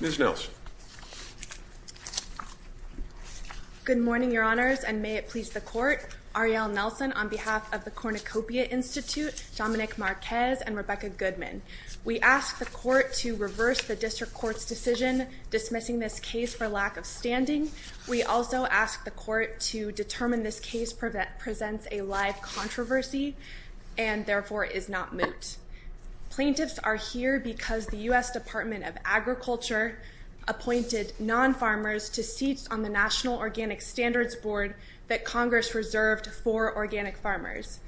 Ms. Nelson. Good morning, your honors, and may it please the court. Arielle Nelson on behalf of the Cornucopia Institute, Dominic Marquez and Rebecca Goodman. We ask the court to reverse the district court's decision dismissing this case for lack of standing. We also ask the court to determine this case presents a live controversy and therefore is not moot. Plaintiffs are here because the U.S. Department of Agriculture appointed non-farmers to seats on the National Organic Standards Board that Congress reserved for organic farmers.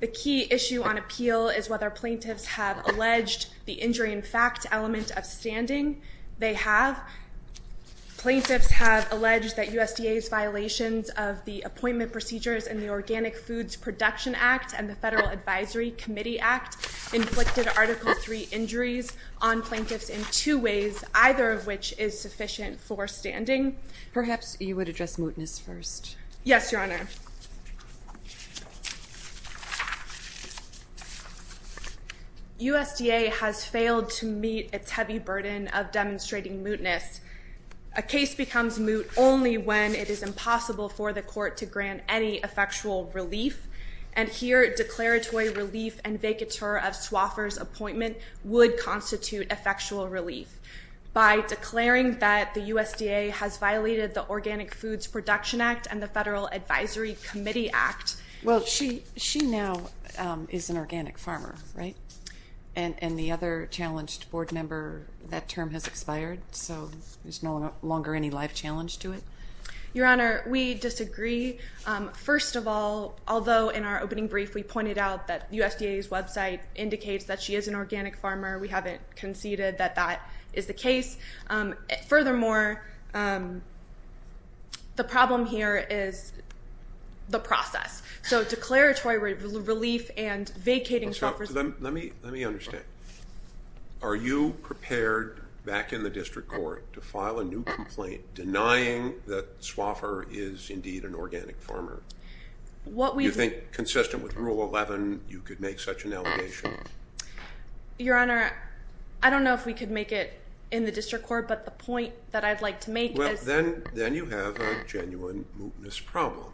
The key issue on appeal is whether plaintiffs have alleged the injury in fact element of standing. They have. Plaintiffs have alleged that USDA's violations of the appointment procedures in the Organic Foods Production Act and the Federal Advisory Committee Act inflicted Article III injuries on plaintiffs in two ways, either of which is sufficient for standing. Perhaps you would address mootness first. Yes, your honor. USDA has failed to meet its heavy burden of demonstrating mootness. A case becomes moot only when it is impossible for the court to grant any effectual relief, and here declaratory relief and vacatur of Swoffer's appointment would constitute effectual relief. By declaring that the USDA has violated the Organic Foods Production Act and the Federal Advisory Committee Act. Well, she she now is an organic farmer, right? And the other challenged board member, that term has expired, so there's no longer any life challenge to it. Your honor, we disagree. First of all, although in our opening brief we pointed out that USDA's website indicates that she is an organic farmer, we haven't conceded that that is the case. Furthermore, the problem here is the process. So declaratory relief and vacating Swoffer's... Let me understand. Are you prepared back in the district court to file a new complaint denying that Swoffer is indeed an organic farmer? You think consistent with rule 11 you could make such an allegation? Your honor, I don't know if we could make it in the district court, but the point that I'd like to make is... Then you have a genuine mootness problem,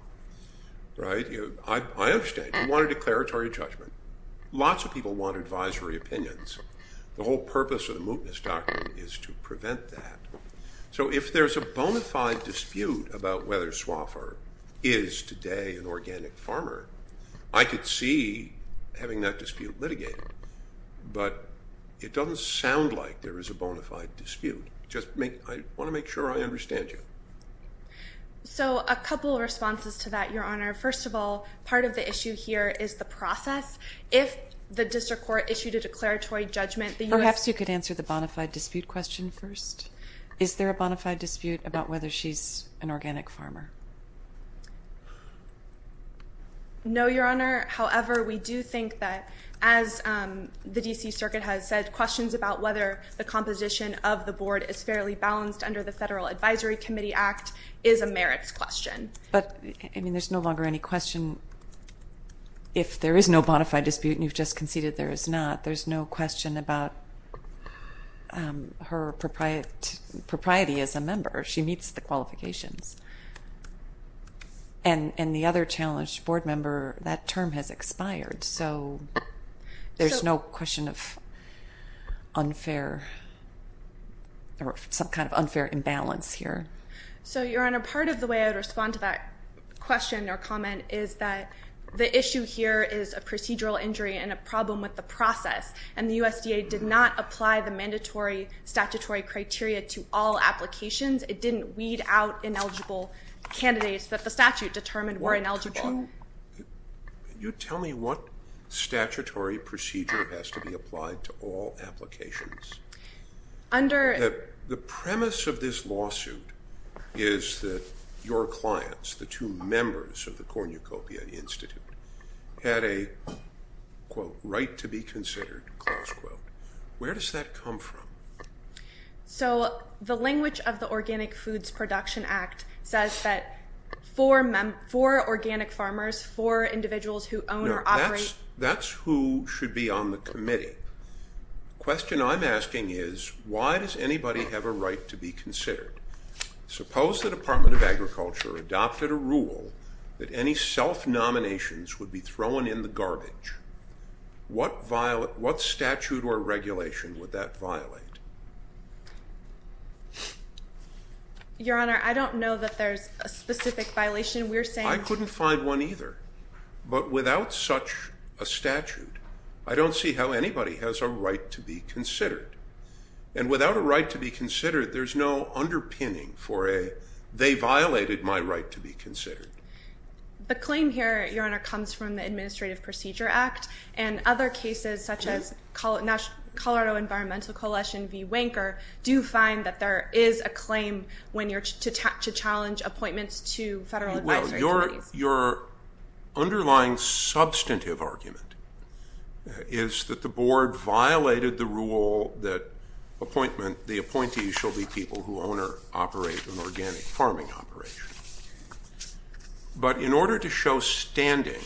right? I understand. You want a declaratory judgment. Lots of people want advisory opinions. The whole purpose of the mootness doctrine is to prevent that. So if there's a bona fide dispute about whether Swoffer is today an organic farmer, I could see having that dispute litigated, but it doesn't sound like there is a bona fide dispute. Just make... I want to make sure I understand you. So a couple of responses to that, your honor. First of all, part of the issue here is the process. If the district court issued a declaratory judgment... Perhaps you could answer the bona fide dispute question first. Is there a bona fide dispute about whether she's an organic farmer? No, your honor. However, we do think that, as the DC Circuit has said, questions about whether the composition of the board is fairly balanced under the Federal Advisory Committee Act is a question. If there is no bona fide dispute, and you've just conceded there is not, there's no question about her propriety as a member. She meets the qualifications. And the other challenged board member, that term has expired. So there's no question of unfair or some kind of unfair imbalance here. So your honor, part of the way I would respond to that question or comment is that the issue here is a procedural injury and a problem with the process. And the USDA did not apply the mandatory statutory criteria to all applications. It didn't weed out ineligible candidates that the statute determined were ineligible. Can you tell me what statutory procedure has to be applied to all your clients, the two members of the Cornucopia Institute, had a, quote, right to be considered, close quote. Where does that come from? So the language of the Organic Foods Production Act says that for organic farmers, for individuals who own or operate... No, that's who should be on the committee. The question I'm Your honor, I don't know that there's a specific violation. We're saying... I couldn't find one either. But without such a statute, I don't see how anybody has a right to be considered. And without a right to be considered, there's no underpinning for a claim that they violated my right to be considered. The claim here, Your Honor, comes from the Administrative Procedure Act and other cases such as Colorado Environmental Coalition v. Wanker do find that there is a claim when you're to challenge appointments to federal advisory committees. Well, your underlying substantive argument is that the board violated the rule that the appointees shall be people who own or operate an organic farming company. But in order to show standing,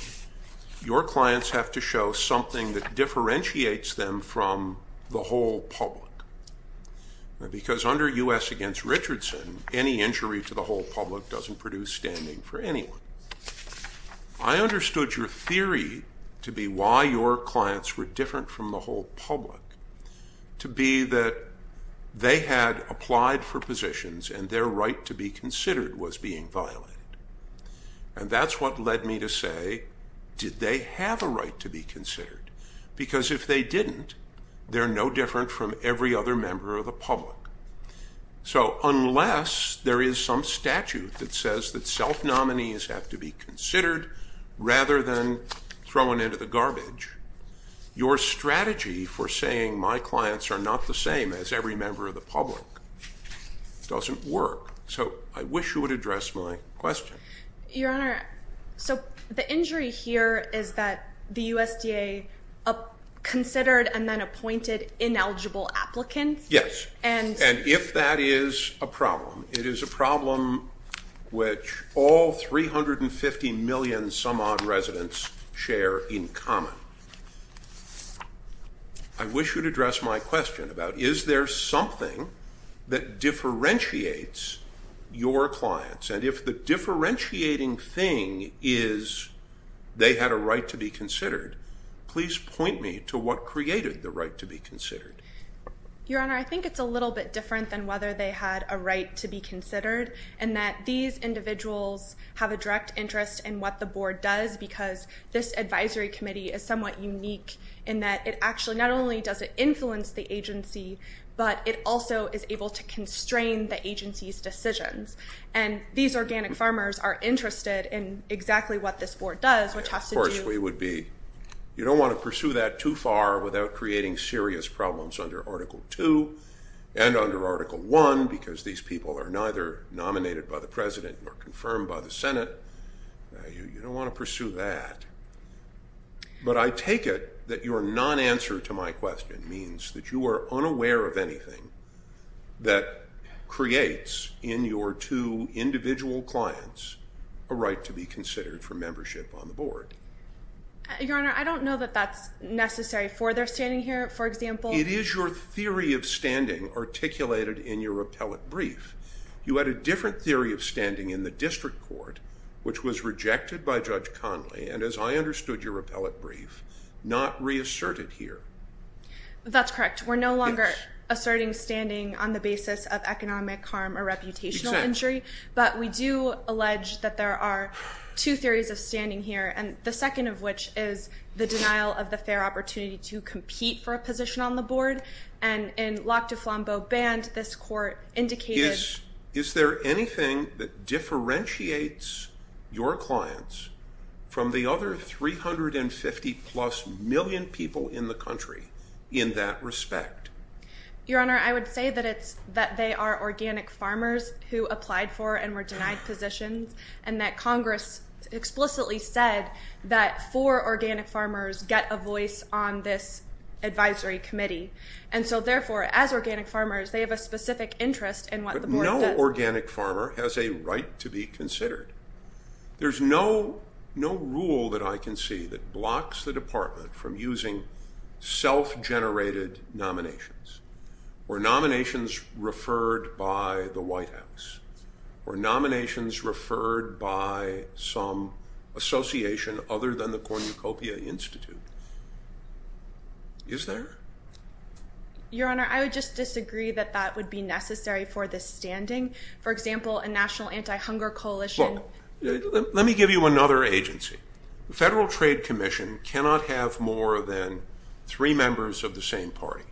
your clients have to show something that differentiates them from the whole public. Because under U.S. against Richardson, any injury to the whole public doesn't produce standing for anyone. I understood your theory to be why your clients were different from the whole public to be that they had applied for positions and their right to be considered. And that's what led me to say, did they have a right to be considered? Because if they didn't, they're no different from every other member of the public. So unless there is some statute that says that self-nominees have to be considered rather than thrown into the garbage, your strategy for saying my clients are not the same as every member of the public doesn't work. So I wish you would address my question. Your Honor, so the injury here is that the USDA considered and then appointed ineligible applicants. Yes. And if that is a problem, it is a problem which all 350 million some odd residents share in common. I wish you would address my question about is there something that differentiates your clients? And if the differentiating thing is they had a right to be considered, please point me to what created the right to be considered. Your Honor, I think it's a little bit different than whether they had a right to be considered and that these individuals have a direct interest in what the board does because this advisory committee is somewhat unique in that it actually not only does it influence the agency, but it also is able to constrain the agency's decisions. And these organic farmers are interested in exactly what this board does, which has to do... Of course we would be. You don't want to pursue that too far without creating serious problems under Article 2 and under Article 1 because these people are neither nominated by the President nor confirmed by the Senate. You don't want to pursue that. But I take it that your non-answer to my question means that you are unaware of anything that creates in your two individual clients a right to be considered for membership on the board. Your Honor, I don't know that that's necessary for their standing here, for example. It is your theory of standing articulated in your repellent brief. You had a different theory of standing in the district court, which was rejected by Judge Conley, and as I understood your repellent brief, not reasserted here. That's correct. We're no longer asserting standing on the basis of economic harm or reputational injury. But we do allege that there are two theories of standing here, and the second of which is the denial of the fair opportunity to compete for a position on the board. And in Locke de Flambeau Band, this court indicated... Is there anything that differentiates your clients from the other 350-plus million people in the country in that respect? Your Honor, I would say that they are organic farmers who applied for and were denied positions, and that Congress explicitly said that four organic farmers get a voice on this advisory committee. And so therefore, as organic farmers, they have a specific interest in what the board does. has a right to be considered. There's no rule that I can see that blocks the department from using self-generated nominations or nominations referred by the White House or nominations referred by some association other than the Cornucopia Institute. Is there? Your Honor, I would just disagree that that would be necessary for the standing. For example, a national anti-hunger coalition... Look, let me give you another agency. The Federal Trade Commission cannot have more than three members of the same party.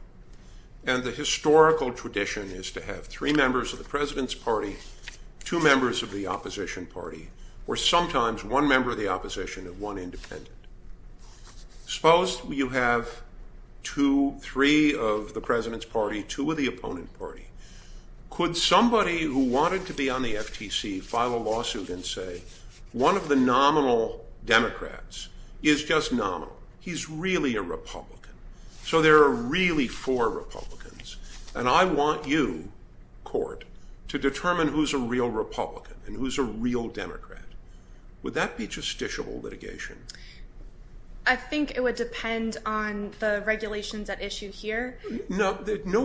And the historical tradition is to have three members of the president's party, two members of the opposition party, or sometimes one member of the opposition and one independent. Suppose you have two, three of the president's party, two of the opponent party. Could somebody who wanted to be on the FTC file a lawsuit and say, one of the nominal Democrats is just nominal. He's really a Republican. So there are really four Republicans. And I want you, court, to determine who's a real Republican and who's a real Democrat. Would that be justiciable litigation? I think it would depend on the regulations at issue here. No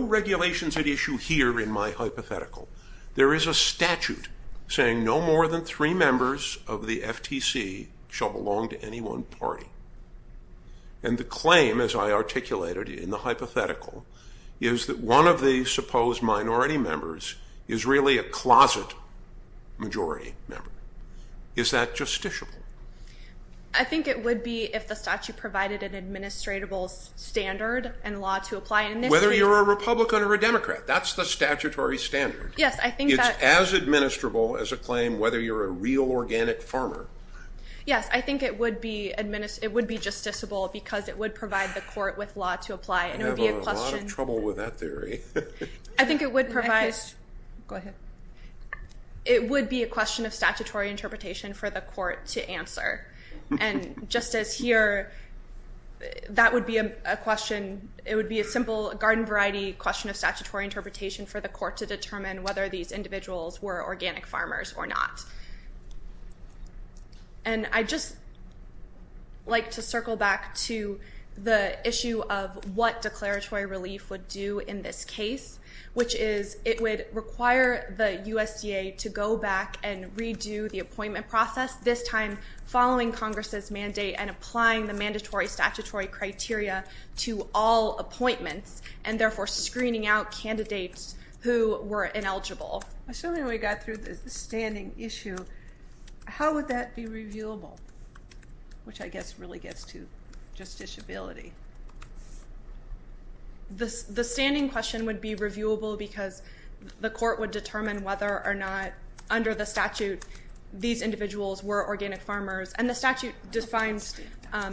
regulations at issue here in my hypothetical. There is a statute saying no more than three members of the FTC shall belong to any one party. And the claim, as I articulated in the hypothetical, is that one of the supposed minority members is really a closet majority member. Is that justiciable? I think it would be if the statute provided an administratable standard and law to apply. Whether you're a Republican or a Democrat, that's the statutory standard. It's as administrable as a claim whether you're a real organic farmer. Yes, I think it would be justiciable because it would provide the court with law to apply. I'm having a lot of trouble with that theory. I think it would provide... Go ahead. It would be a question of statutory interpretation for the court to answer. And just as here, that would be a question... It would be a simple garden variety question of statutory interpretation for the court to determine whether these individuals were organic farmers or not. And I'd just like to circle back to the issue of what declaratory relief would do in this case, which is it would require the USDA to go back and redo the appointment process, this time following Congress's mandate and applying the mandatory statutory criteria to all appointments, and therefore screening out candidates who were ineligible. Assuming we got through the standing issue, how would that be reviewable? Which I guess really gets to justiciability. The standing question would be reviewable because the court would determine whether or not under the statute these individuals were organic farmers. And the statute defines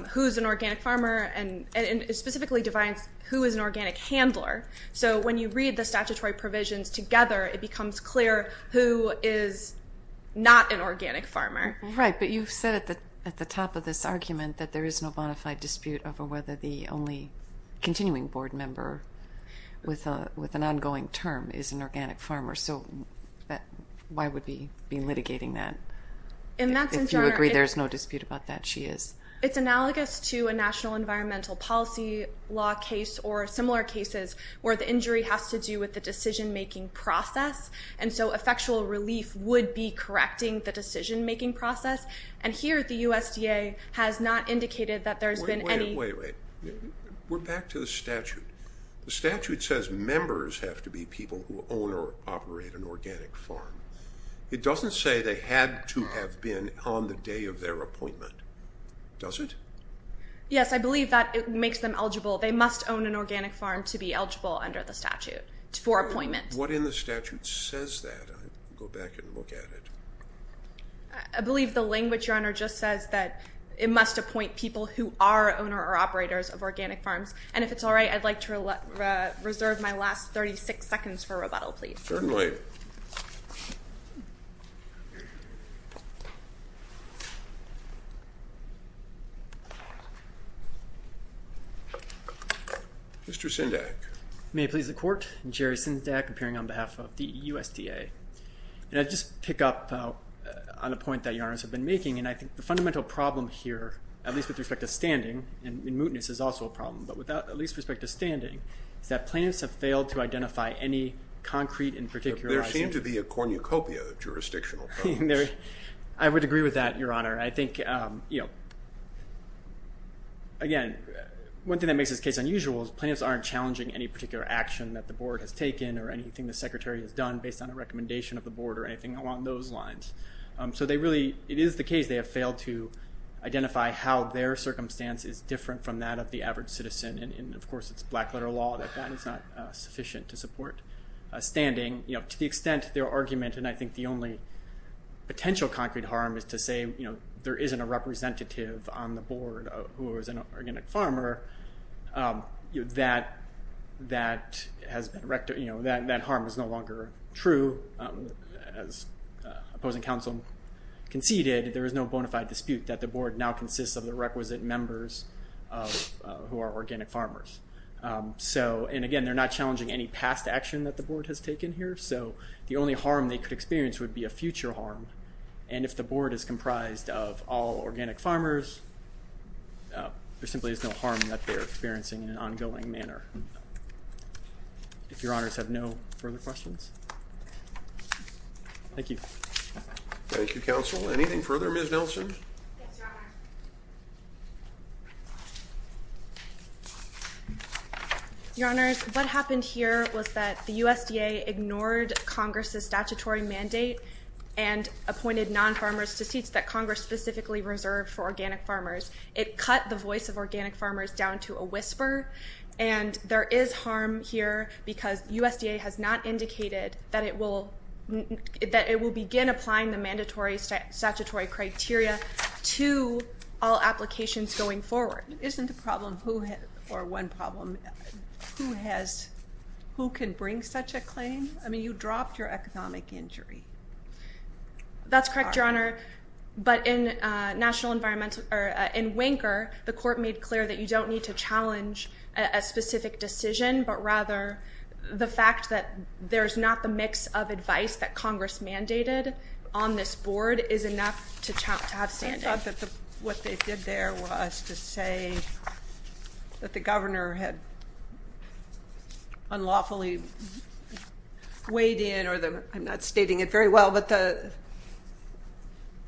who is an organic farmer and specifically defines who is an organic handler. So when you read the statutory provisions together, it becomes clear who is not an organic farmer. Right. But you've said at the top of this argument that there is no bonafide dispute over whether the only continuing board member with an ongoing term is an organic farmer. So why would we be litigating that? If you agree there's no dispute about that, she is. It's analogous to a national environmental policy law case or similar cases where the injury has to do with the decision-making process. And so effectual relief would be correcting the decision-making process. And here the USDA has not indicated that there's been any... Wait, wait, wait. We're back to the statute. The statute says members have to be people who own or operate an organic farm. It doesn't say they had to have been on the day of their appointment, does it? Yes, I believe that it makes them eligible. They must own an organic farm to be eligible under the statute for appointment. What in the statute says that? Go back and look at it. I believe the language, Your Honor, just says that it must appoint people who are owner or operators of organic farms. And if it's all right, I'd like to reserve my last 36 seconds for rebuttal, please. Certainly. Thank you. Mr. Sindak. May it please the Court. Jerry Sindak, appearing on behalf of the USDA. And I'd just pick up on a point that Your Honors have been making, and I think the fundamental problem here, at least with respect to standing, and mootness is also a problem, but with at least respect to standing, is that plaintiffs have failed to identify any concrete and particularizing... There seem to be a cornucopia of jurisdictional problems. I would agree with that, Your Honor. I think, you know, again, one thing that makes this case unusual is plaintiffs aren't challenging any particular action that the Board has taken or anything the Secretary has done based on a recommendation of the Board or anything along those lines. So they really, it is the case they have failed to identify how their circumstance is different from that of the average citizen. And, of course, it's black letter law that that is not sufficient to support standing. To the extent their argument, and I think the only potential concrete harm is to say there isn't a representative on the Board who is an organic farmer, that harm is no longer true. As opposing counsel conceded, there is no bona fide dispute that the Board now consists of the requisite members who are organic farmers. So, and again, they're not challenging any past action that the Board has taken here, so the only harm they could experience would be a future harm. And if the Board is comprised of all organic farmers, there simply is no harm that they're experiencing in an ongoing manner. If Your Honors have no further questions. Thank you. Thank you, counsel. Anything further, Ms. Nelson? Yes, Your Honor. Your Honors, what happened here was that the USDA ignored Congress's statutory mandate and appointed non-farmers to seats that Congress specifically reserved for organic farmers. It cut the voice of organic farmers down to a whisper, and there is harm here because USDA has not indicated that it will begin applying the mandatory statutory criteria to all applications going forward. Isn't the problem who, or one problem, who has, who can bring such a claim? I mean, you dropped your economic injury. That's correct, Your Honor. But in national environmental, or in Winker, the court made clear that you don't need to challenge a specific decision, but rather the fact that there's not the mix of advice that Congress mandated on this Board is enough to have standing. I thought that what they did there was to say that the governor had unlawfully weighed in, or I'm not stating it very well, but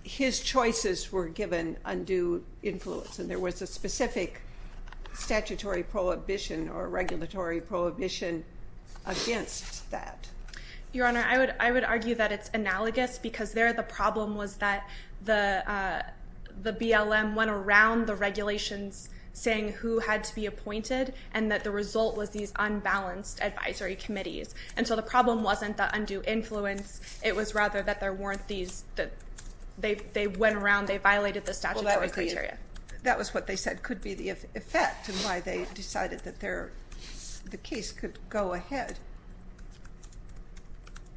his choices were given undue influence, and there was a specific statutory prohibition or regulatory prohibition against that. Your Honor, I would argue that it's analogous, because there the problem was that the BLM went around the regulations saying who had to be appointed, and that the result was these unbalanced advisory committees. And so the problem wasn't the undue influence. It was rather that there weren't these, they went around, they violated the statutory criteria. That was what they said could be the effect, and why they decided that the case could go ahead.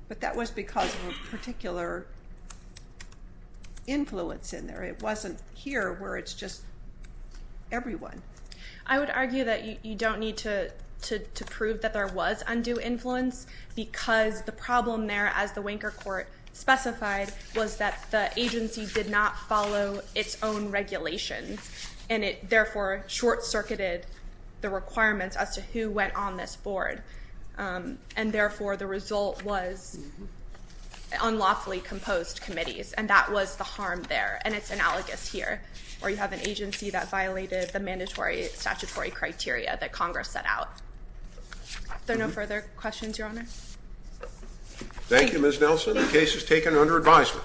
But that was because of a particular influence in there. It wasn't here where it's just everyone. I would argue that you don't need to prove that there was undue influence, because the problem there, as the Winker court specified, was that the agency did not follow its own regulations, and it therefore short-circuited the requirements as to who went on this board, and therefore the result was unlawfully composed committees, and that was the harm there, and it's analogous here, where you have an agency that violated the mandatory statutory criteria that Congress set out. Are there no further questions, Your Honor? Thank you, Ms. Nelson. The case is taken under advisement.